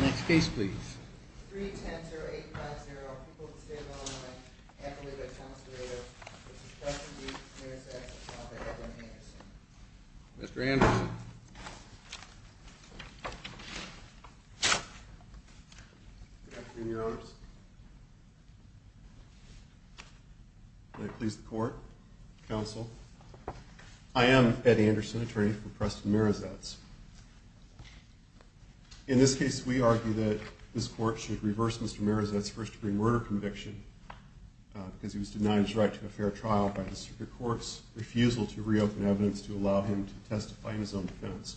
Next case please. Mr. Anderson Good afternoon, your honors. May it please the court, counsel. I am Ed Anderson, attorney for Preston Marizetts. In this case, we argue that this court should reverse Mr. Marizetts' first-degree murder conviction because he was denied his right to a fair trial by the Supreme Court's refusal to reopen evidence to allow him to testify in his own defense.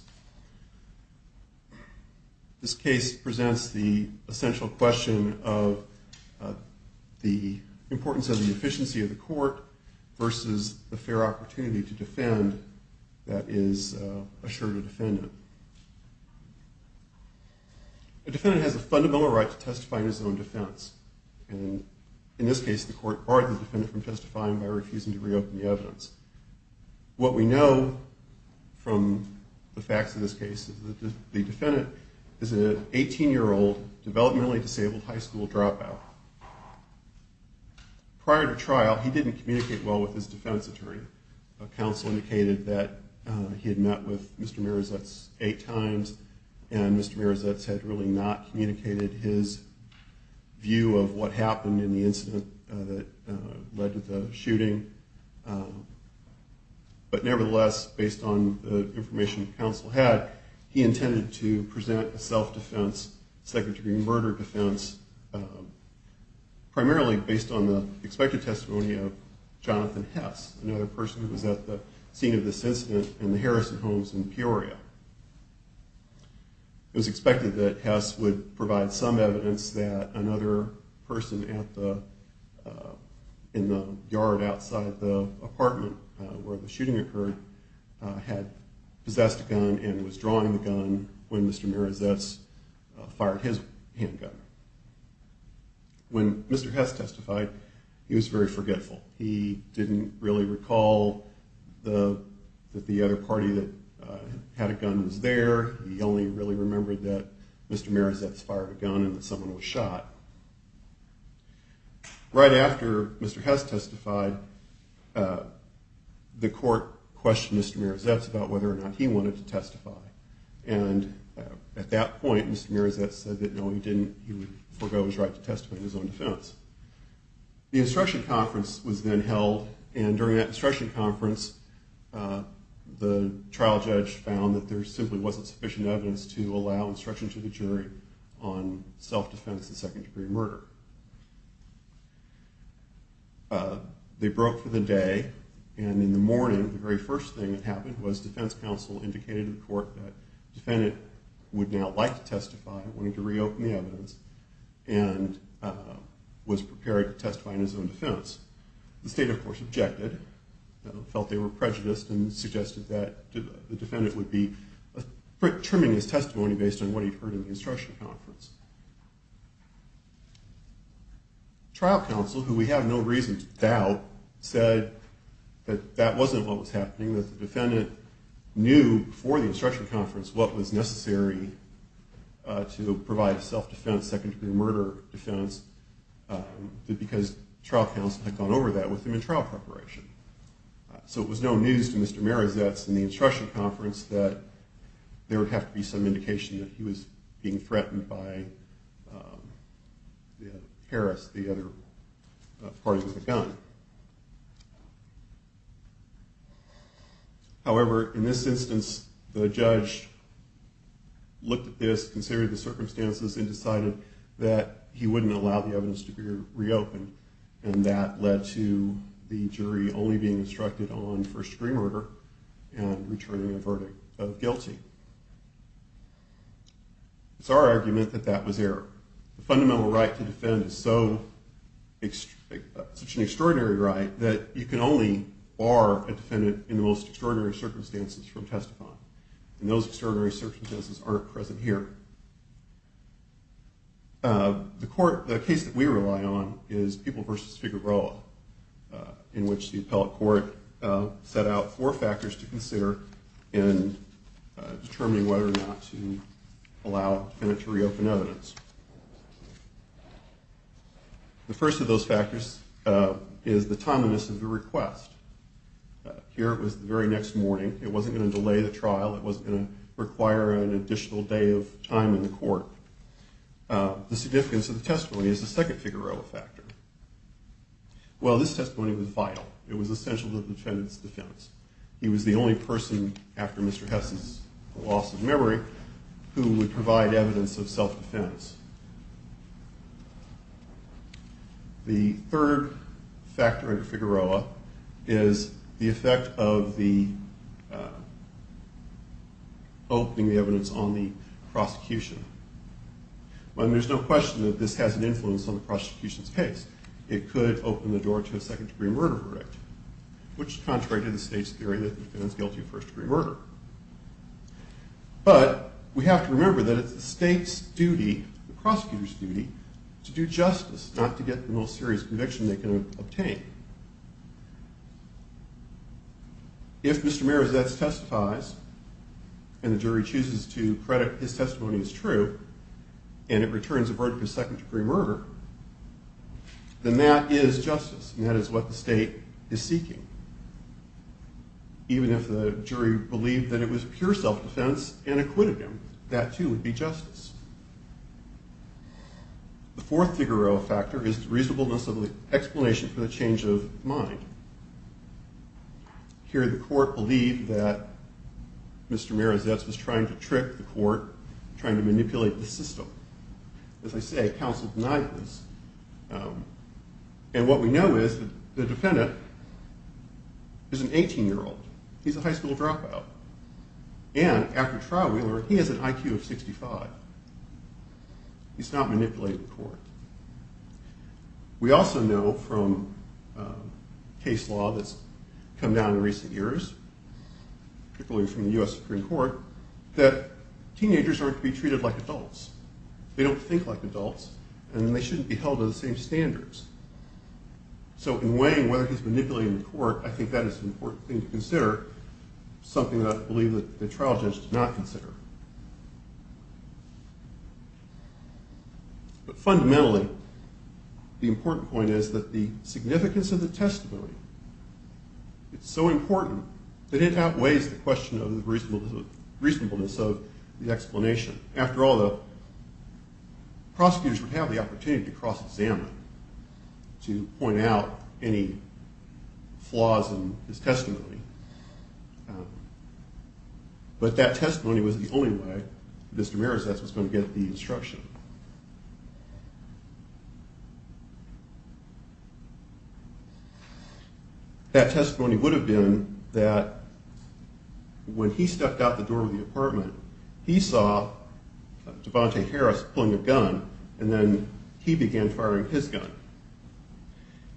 This case presents the essential question of the importance of the efficiency of the court versus the fair opportunity to defend that is assured a defendant. A defendant has a fundamental right to testify in his own defense. In this case, the court barred the defendant from testifying by refusing to reopen the evidence. What we know from the facts of this case is that the defendant is an 18-year-old, developmentally disabled high school dropout. Prior to trial, he didn't communicate well with his defense attorney. Counsel indicated that he had met with Mr. Marizetts eight times and Mr. Marizetts had really not communicated his view of what happened in the incident that led to the shooting. But nevertheless, based on the information counsel had, he intended to present a self-defense, second-degree murder defense, primarily based on the expected testimony of Jonathan Hess, another person who was at the scene of this incident in the Harrison homes in Peoria. It was expected that Hess would provide some evidence that another person in the yard outside the apartment where the shooting occurred had possessed a gun and was drawing the gun when Mr. Marizetts fired his handgun. When Mr. Hess testified, he was very forgetful. He didn't really recall that the other party that had a gun was there. He only really remembered that Mr. Marizetts fired a gun and that someone was shot. Right after Mr. Hess testified, the court questioned Mr. Marizetts about whether or not he wanted to testify. And at that point, Mr. Marizetts said that no, he would forgo his right to testify in his own defense. The instruction conference was then held and during that instruction conference, the trial judge found that there simply wasn't sufficient evidence to allow instruction to the jury on self-defense of second degree murder. They broke for the day and in the morning, the very first thing that happened was defense counsel indicated to the court that the defendant would now like to testify and wanted to reopen the evidence and was prepared to testify in his own defense. The state, of course, objected and felt they were prejudiced and suggested that the defendant would be trimming his testimony based on what he'd heard in the instruction conference. Trial counsel, who we have no reason to doubt, said that that wasn't what was happening, that the defendant knew before the instruction conference what was necessary to provide self-defense, second degree murder defense because trial counsel had gone over that with him in trial preparation. So it was no news to Mr. Marizetts in the instruction conference that there would have to be some indication that he was being threatened by Harris, the other party with the gun. However, in this instance, the judge looked at this, considered the circumstances, and decided that he wouldn't allow the evidence to be reopened and that led to the jury only being instructed on first degree murder and returning a verdict of guilty. It's our argument that that was error. The fundamental right to defend is such an extraordinary right that you can only bar a defendant in the most extraordinary circumstances from testifying. And those extraordinary circumstances aren't present here. The case that we rely on is People v. Figueroa, in which the appellate court set out four factors to consider in determining whether or not to allow the defendant to reopen evidence. The first of those factors is the timeliness of the request. Here it was the very next morning. It wasn't going to delay the trial. It wasn't going to require an additional day of time in the court. The significance of the testimony is the second Figueroa factor. Well, this testimony was vital. It was essential to the defendant's defense. He was the only person, after Mr. Hess's loss of memory, who would provide evidence of self-defense. The third factor under Figueroa is the effect of the opening the evidence on the prosecution. Well, there's no question that this has an influence on the prosecution's case. It could open the door to a second-degree murder verdict, which is contrary to the state's theory that the defendant's guilty of first-degree murder. But we have to remember that it's the state's duty – the prosecutor's duty – to do justice, not to get the most serious conviction they can obtain. If Mr. Merazetz testifies, and the jury chooses to credit his testimony as true, and it returns a verdict of second-degree murder, then that is justice, and that is what the state is seeking. Even if the jury believed that it was pure self-defense and acquitted him, that, too, would be justice. The fourth Figueroa factor is the reasonableness of the explanation for the change of mind. Here, the court believed that Mr. Merazetz was trying to trick the court, trying to manipulate the system. As I say, counsel denied this. And what we know is that the defendant is an 18-year-old. He's a high school dropout. And, after trial, we learned he has an IQ of 65. He's not manipulating the court. We also know from case law that's come down in recent years, particularly from the U.S. Supreme Court, that teenagers aren't to be treated like adults. They don't think like adults, and they shouldn't be held to the same standards. So, in weighing whether he's manipulating the court, I think that is an important thing to consider, something that I believe that the trial judge did not consider. But, fundamentally, the important point is that the significance of the testimony, it's so important that it outweighs the question of the reasonableness of the explanation. After all, the prosecutors would have the opportunity to cross-examine, to point out any flaws in his testimony. But that testimony was the only way Mr. Merazetz was going to get the instruction. That testimony would have been that when he stepped out the door of the apartment, he saw Devante Harris pulling a gun, and then he began firing his gun.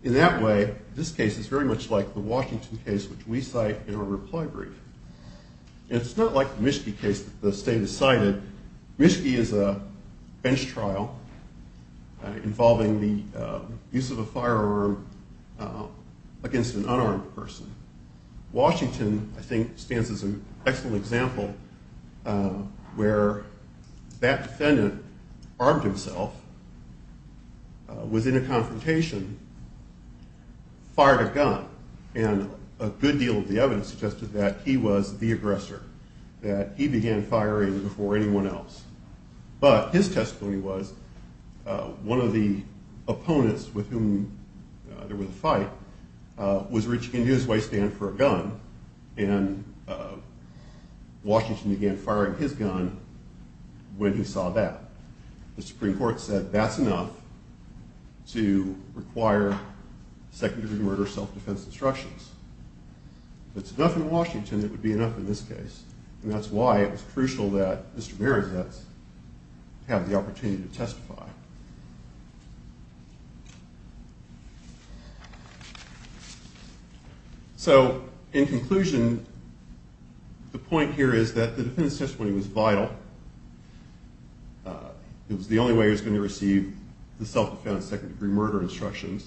In that way, this case is very much like the Washington case, which we cite in our reply brief. And it's not like the Mischke case that the state decided. Mischke is a bench trial involving the use of a firearm against an unarmed person. Washington, I think, stands as an excellent example, where that defendant armed himself, was in a confrontation, fired a gun. And a good deal of the evidence suggested that he was the aggressor, that he began firing before anyone else. But his testimony was, one of the opponents with whom there was a fight was reaching into his waystand for a gun, and Washington began firing his gun when he saw that. The Supreme Court said that's enough to require secondary murder self-defense instructions. If it's enough in Washington, it would be enough in this case. And that's why it was crucial that Mr. Marazetz have the opportunity to testify. So, in conclusion, the point here is that the defendant's testimony was vital. It was the only way he was going to receive the self-defense second-degree murder instructions.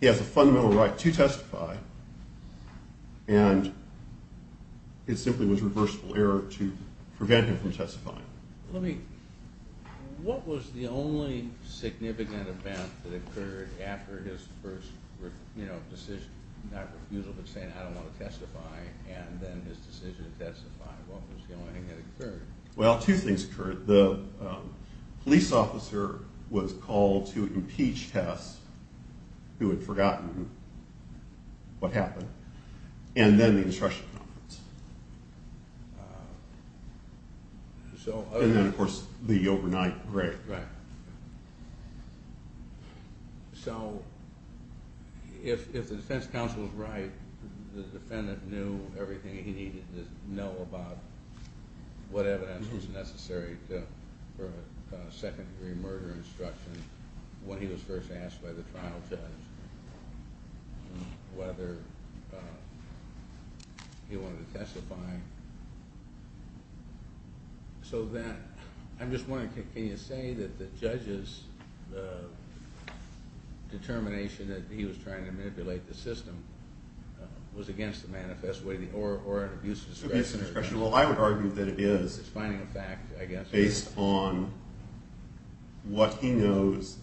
He has a fundamental right to testify. And it simply was reversible error to prevent him from testifying. What was the only significant event that occurred after his first decision, not refusal, but saying, I don't want to testify, and then his decision to testify? What was the only thing that occurred? Well, two things occurred. The police officer was called to impeach Hess, who had forgotten what happened. And then the instruction conference. And then, of course, the overnight grave. Right. So, if the defense counsel is right, the defendant knew everything he needed to know about what evidence was necessary for a second-degree murder instruction when he was first asked by the trial judge whether he wanted to testify. So then, I'm just wondering, can you say that the judge's determination that he was trying to manipulate the system was against the manifest way, or an abuse of discretion? Abuse of discretion. Well, I would argue that it is. It's finding a fact, I guess. Based on what he knows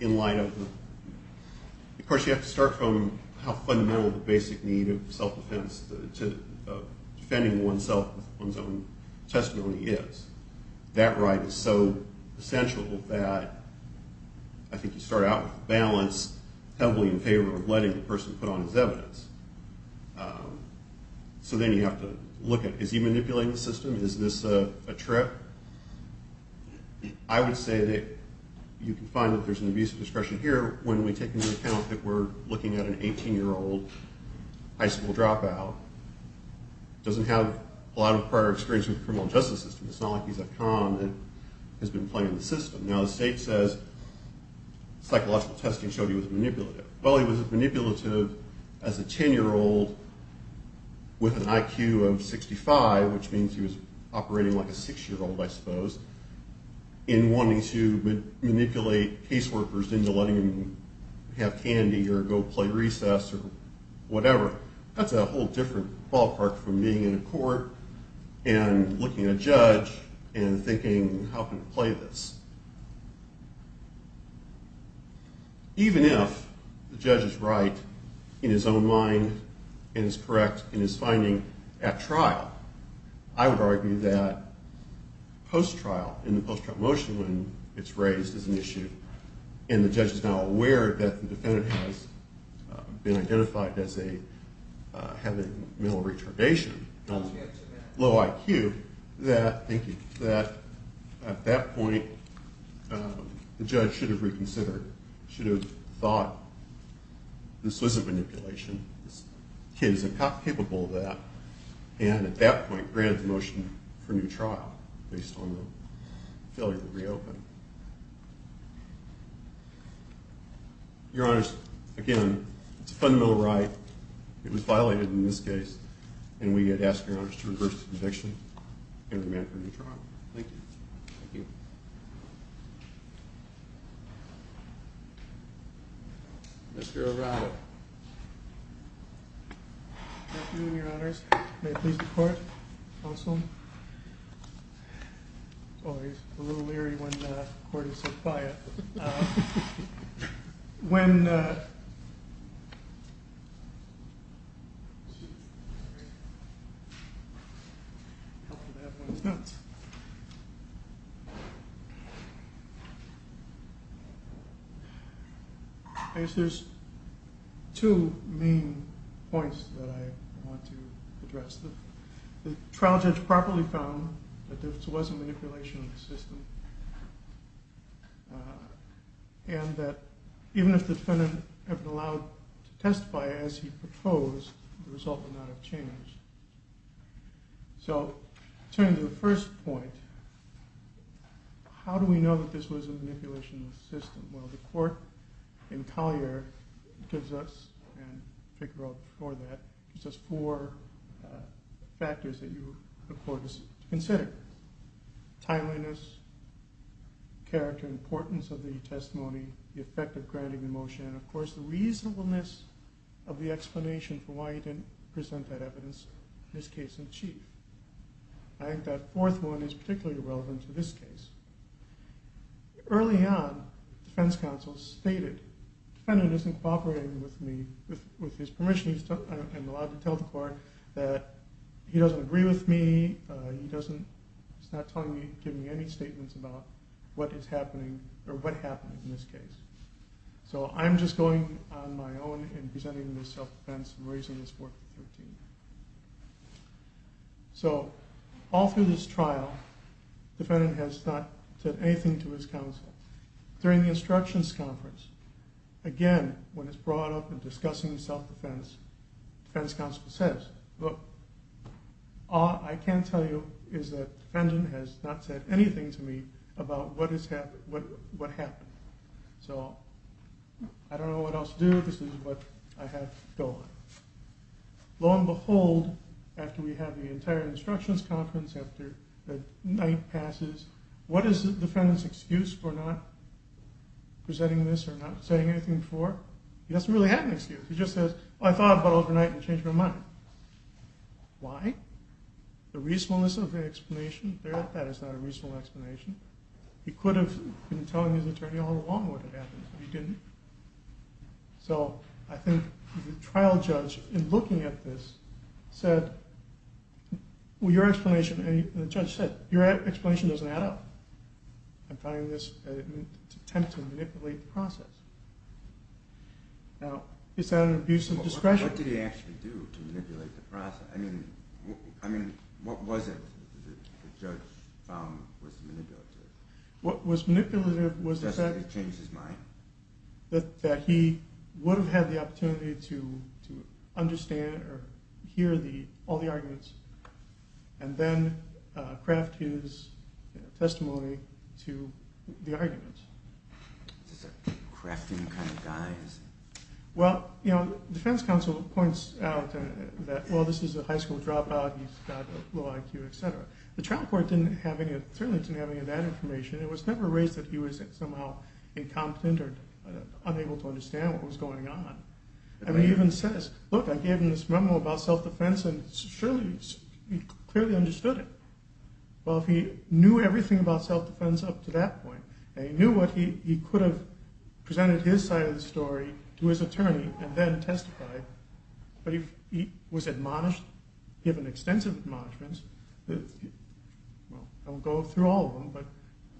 in light of the... Of course, you have to start from how fundamental the basic need of self-defense to defending oneself with one's own testimony is. That right is so essential that I think you start out with a balance heavily in favor of letting the person put on his evidence. So then you have to look at, is he manipulating the system? Is this a trip? I would say that you can find that there's an abuse of discretion here when we take into account that we're looking at an 18-year-old high school dropout who doesn't have a lot of prior experience with the criminal justice system. It's not like he's a con that has been playing the system. Now, the state says psychological testing showed he was manipulative. Well, he was manipulative as a 10-year-old with an IQ of 65, which means he was operating like a 6-year-old, I suppose, in wanting to manipulate caseworkers into letting him have candy or go play recess or whatever. That's a whole different ballpark from being in a court and looking at a judge and thinking, how can we play this? Even if the judge is right in his own mind and is correct in his finding at trial, I would argue that post-trial, in the post-trial motion when it's raised as an issue and the judge is now aware that the defendant has been identified as having mental retardation, low IQ, I would argue that at that point the judge should have reconsidered, should have thought this wasn't manipulation, this kid isn't capable of that, and at that point granted the motion for a new trial based on the failure to reopen. Your Honors, again, it's a fundamental right, it was violated in this case, and we ask Your Honors to reverse the conviction and remand for a new trial. Thank you. Mr. Arado. Good afternoon, Your Honors. May it please the Court, Counsel? Oh, he's a little leery when the Court is so quiet. When... I guess there's two main points that I want to address. The trial judge properly found that this was a manipulation of the system. And that even if the defendant had been allowed to testify as he proposed, the result would not have changed. So, turning to the first point, how do we know that this was a manipulation of the system? Well, the Court in Collier gives us, and Figaro before that, gives us four factors that the Court is considering. Timeliness, character, importance of the testimony, the effect of granting the motion, and of course the reasonableness of the explanation for why he didn't present that evidence in this case in chief. I think that fourth one is particularly relevant to this case. Early on, the defense counsel stated, the defendant isn't cooperating with me, with his permission, I'm allowed to tell the Court that he doesn't agree with me, he doesn't, he's not telling me, giving me any statements about what is happening, or what happened in this case. So, I'm just going on my own in presenting this self-defense and raising this 413. So, all through this trial, the defendant has not said anything to his counsel. During the instructions conference, again, when it's brought up in discussing self-defense, the defense counsel says, look, all I can tell you is that the defendant has not said anything to me about what happened. So, I don't know what else to do, this is what I have to go on. Lo and behold, after we have the entire instructions conference, after the night passes, what is the defendant's excuse for not presenting this or not saying anything before? He doesn't really have an excuse, he just says, well, I thought about it overnight and changed my mind. Why? The reasonableness of the explanation, that is not a reasonable explanation. He could have been telling his attorney all along what had happened, but he didn't. So, I think the trial judge, in looking at this, said, well, your explanation, and the judge said, I'm finding this an attempt to manipulate the process. Now, is that an abuse of discretion? What did he actually do to manipulate the process? I mean, what was it that the judge found was manipulative? What was manipulative was that... He changed his mind? That he would have had the opportunity to understand or hear all the arguments, and then craft his testimony to the arguments. These are crafting kind of guys. Well, the defense counsel points out that, well, this is a high school dropout, he's got a low IQ, etc. The trial court certainly didn't have any of that information. It was never raised that he was somehow incompetent or unable to understand what was going on. He even says, look, I gave him this memo about self-defense and he clearly understood it. Well, if he knew everything about self-defense up to that point, he could have presented his side of the story to his attorney and then testified. But he was admonished, given extensive admonishments. I won't go through all of them, but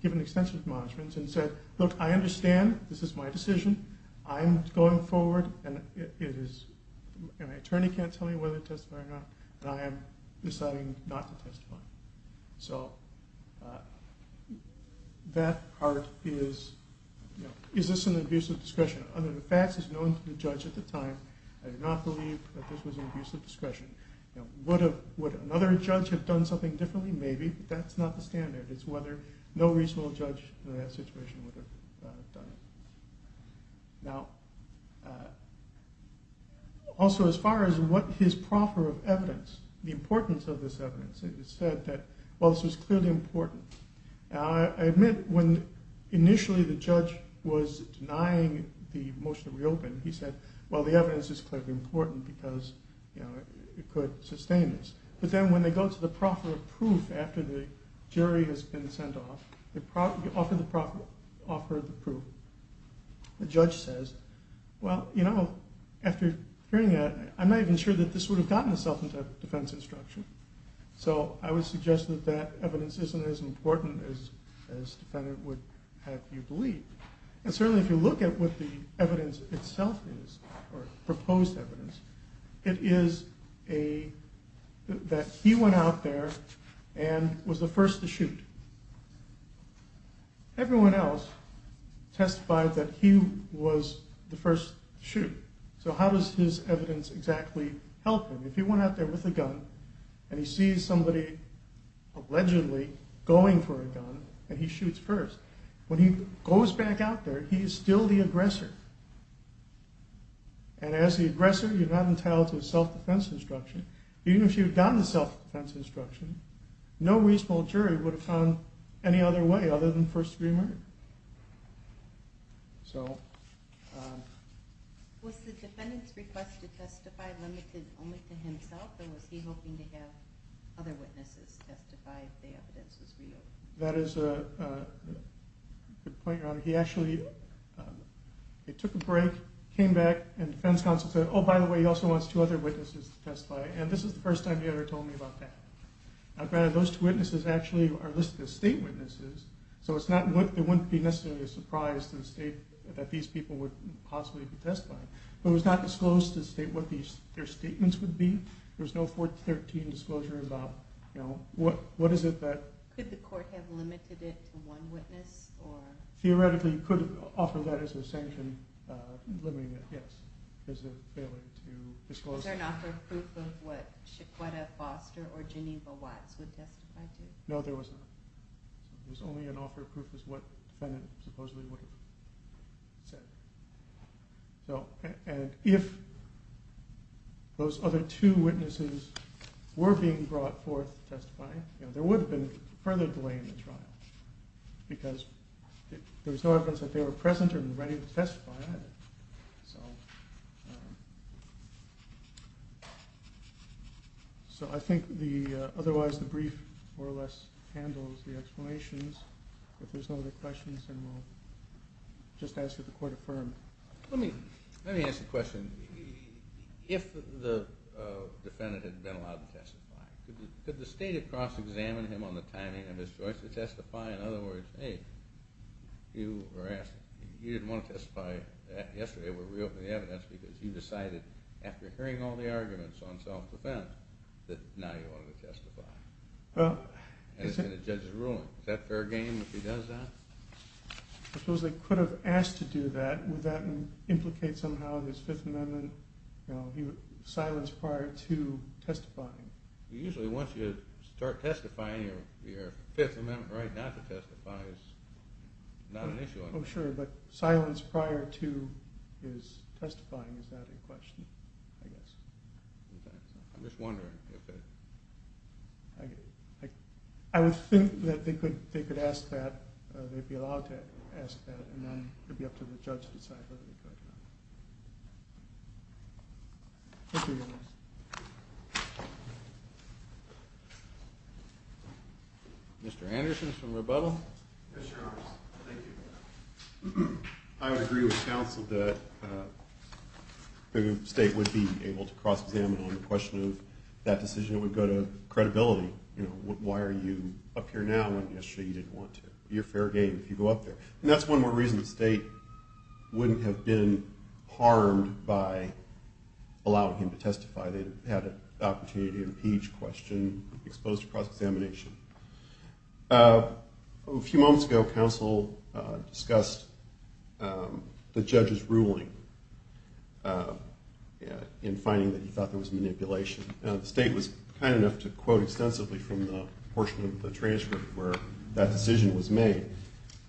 given extensive admonishments, and said, look, I understand, this is my decision, I'm going forward, and my attorney can't tell me whether to testify or not, and I am deciding not to testify. So that part is, is this an abuse of discretion? Under the facts as known to the judge at the time, I do not believe that this was an abuse of discretion. Would another judge have done something differently? Maybe, but that's not the standard. It's whether no reasonable judge in that situation would have done it. Now, also as far as what his proffer of evidence, the importance of this evidence, he said that, well, this was clearly important. I admit, when initially the judge was denying the motion to reopen, he said, well, the evidence is clearly important because it could sustain this. But then when they go to the proffer of proof after the jury has been sent off, they offer the proffer of proof. The judge says, well, you know, after hearing that, I'm not even sure that this would have gotten the self-defense instruction. So I would suggest that that evidence isn't as important as defendant would have you believe. And certainly if you look at what the evidence itself is, or proposed evidence, it is that he went out there and was the first to shoot. Everyone else testified that he was the first to shoot. So how does his evidence exactly help him? If he went out there with a gun, and he sees somebody allegedly going for a gun, and he shoots first, when he goes back out there, he is still the aggressor. And as the aggressor, you're not entitled to a self-defense instruction. Even if you had gotten the self-defense instruction, no reasonable jury would have found any other way other than first degree murder. So... Did the defendant's request to testify limited only to himself, or was he hoping to have other witnesses testify if the evidence was real? That is a good point, Your Honor. He actually took a break, came back, and defense counsel said, oh, by the way, he also wants two other witnesses to testify. And this is the first time he ever told me about that. Now granted, those two witnesses actually are listed as state witnesses, so it wouldn't be necessarily a surprise to the state that these people would possibly be testifying. They were not disclosed to state what their statements would be. There was no 413 disclosure about, you know, what is it that... Could the court have limited it to one witness, or... Theoretically, you could offer that as a sanction, limiting it, yes, as a failure to disclose... Was there an offer of proof of what Chiquetta, Foster, or Geneva Watts would testify to? No, there was not. There was only an offer of proof of what the defendant supposedly would have said. So, and if... Those other two witnesses were being brought forth to testify, you know, there would have been further delay in the trial, because there was no evidence that they were present or ready to testify. So... So I think the... Otherwise, the brief more or less handles the explanations. If there's no other questions, then we'll just ask that the court affirm. Let me ask a question. If the defendant had been allowed to testify, could the State of Cross examine him on the timing of his choice to testify? In other words, hey, you didn't want to testify yesterday. We're reopening the evidence because you decided, after hearing all the arguments on self-defense, that now you wanted to testify. Well... And it's in the judge's ruling. Is that fair game if he does that? I suppose they could have asked to do that. Would that implicate somehow his Fifth Amendment, you know, silence prior to testifying? Usually, once you start testifying, your Fifth Amendment right not to testify is not an issue anymore. Oh, sure, but silence prior to his testifying, is that a question, I guess? I'm just wondering if it... I would think that they could ask that, they'd be allowed to ask that, and then it'd be up to the judge to decide whether to do it or not. Thank you, Your Honor. Mr. Anderson from Rebuttal. Yes, Your Honor. Thank you. I agree with counsel that the State would be able to cross-examine him on the question of that decision and finally, you know, why are you up here now when yesterday you didn't want to? It'd be a fair game if you go up there. And that's one more reason the State wouldn't have been harmed by allowing him to testify. They'd have had an opportunity to impeach the question, be exposed to cross-examination. A few moments ago, counsel discussed the judge's ruling in finding that he thought there was manipulation. This is specifically from the portion of the transcript where that decision was made.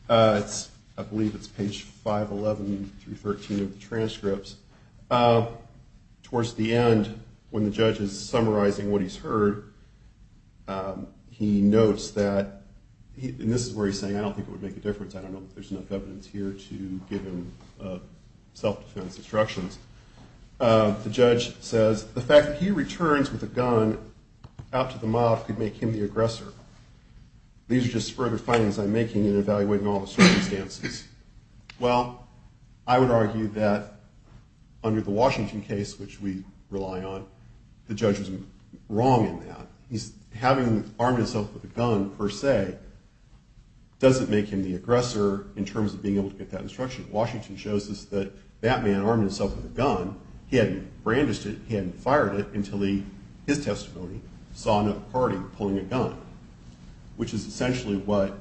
I believe it's page 511 through 513 of the transcripts. Towards the end, when the judge is summarizing what he's heard, he notes that, and this is where he's saying I don't think it would make a difference. I don't know if there's enough evidence here to give him self-defense instructions. The judge says the fact that he returns with a gun could make him the aggressor. These are just further findings I'm making in evaluating all the circumstances. Well, I would argue that under the Washington case, which we rely on, the judge was wrong in that. Having him armed himself with a gun, per se, doesn't make him the aggressor in terms of being able to get that instruction. Washington shows us that that man armed himself with pulling a gun, which is essentially what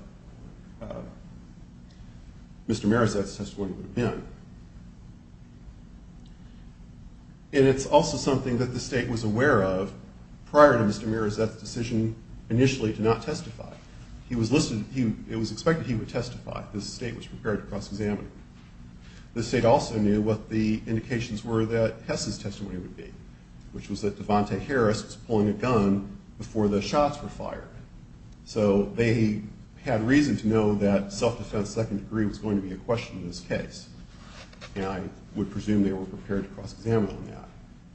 Mr. Mirazet's testimony would have been. And it's also something that the state was aware of prior to Mr. Mirazet's decision initially to not testify. It was expected he would testify. The state was prepared to cross-examine him. The state also knew what the indications were that Hess's testimony would be, which was that Devante Harris shots were fired. So they had reason to know that self-defense second degree was going to be a question in this case. And I would presume they were prepared to cross-examine on that.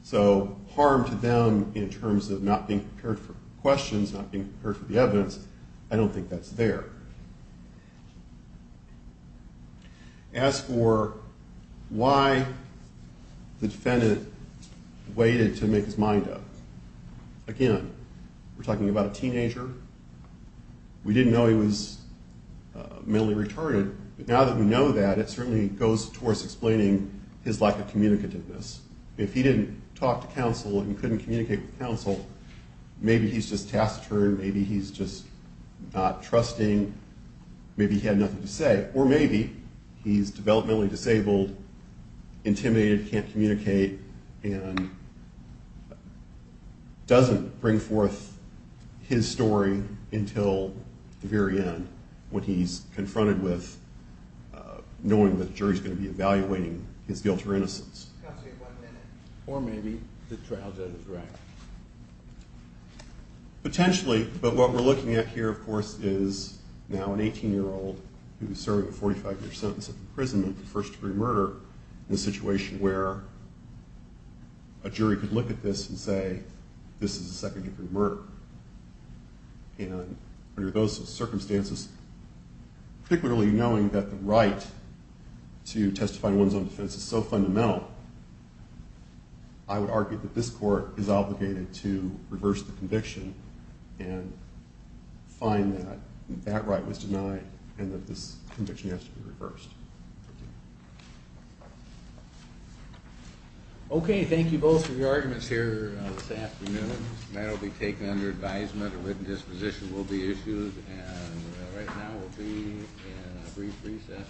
So harm to them in terms of not being prepared for questions, not being prepared for the evidence, I don't think that's there. As for why the defendant waited to make his mind up, again, he was a teenager. We didn't know he was mentally retarded. But now that we know that, it certainly goes towards explaining his lack of communicativeness. If he didn't talk to counsel and couldn't communicate with counsel, maybe he's just taciturn. Maybe he's just not trusting. Maybe he had nothing to say. Or maybe he's developmentally disabled, intimidated, can't communicate, and doesn't bring forth his story until the very end when he's confronted with knowing that the jury's going to be evaluating his guilt or innocence. Or maybe the trial judge is right. Potentially, but what we're looking at here, of course, is now an 18-year-old who's serving a 45-year sentence of imprisonment for first-degree murder in a situation where a jury could look at this and say, this is a second-degree murder. And under those circumstances, particularly knowing that the right to testify to one's own defense is so fundamental, I would argue that this court is obligated to reverse the conviction and find that that right was denied and that this conviction has to be reversed. Okay, thank you both for your arguments here this afternoon. That'll be taken under advisement that a written disposition will be issued. And right now we'll be in a brief recess.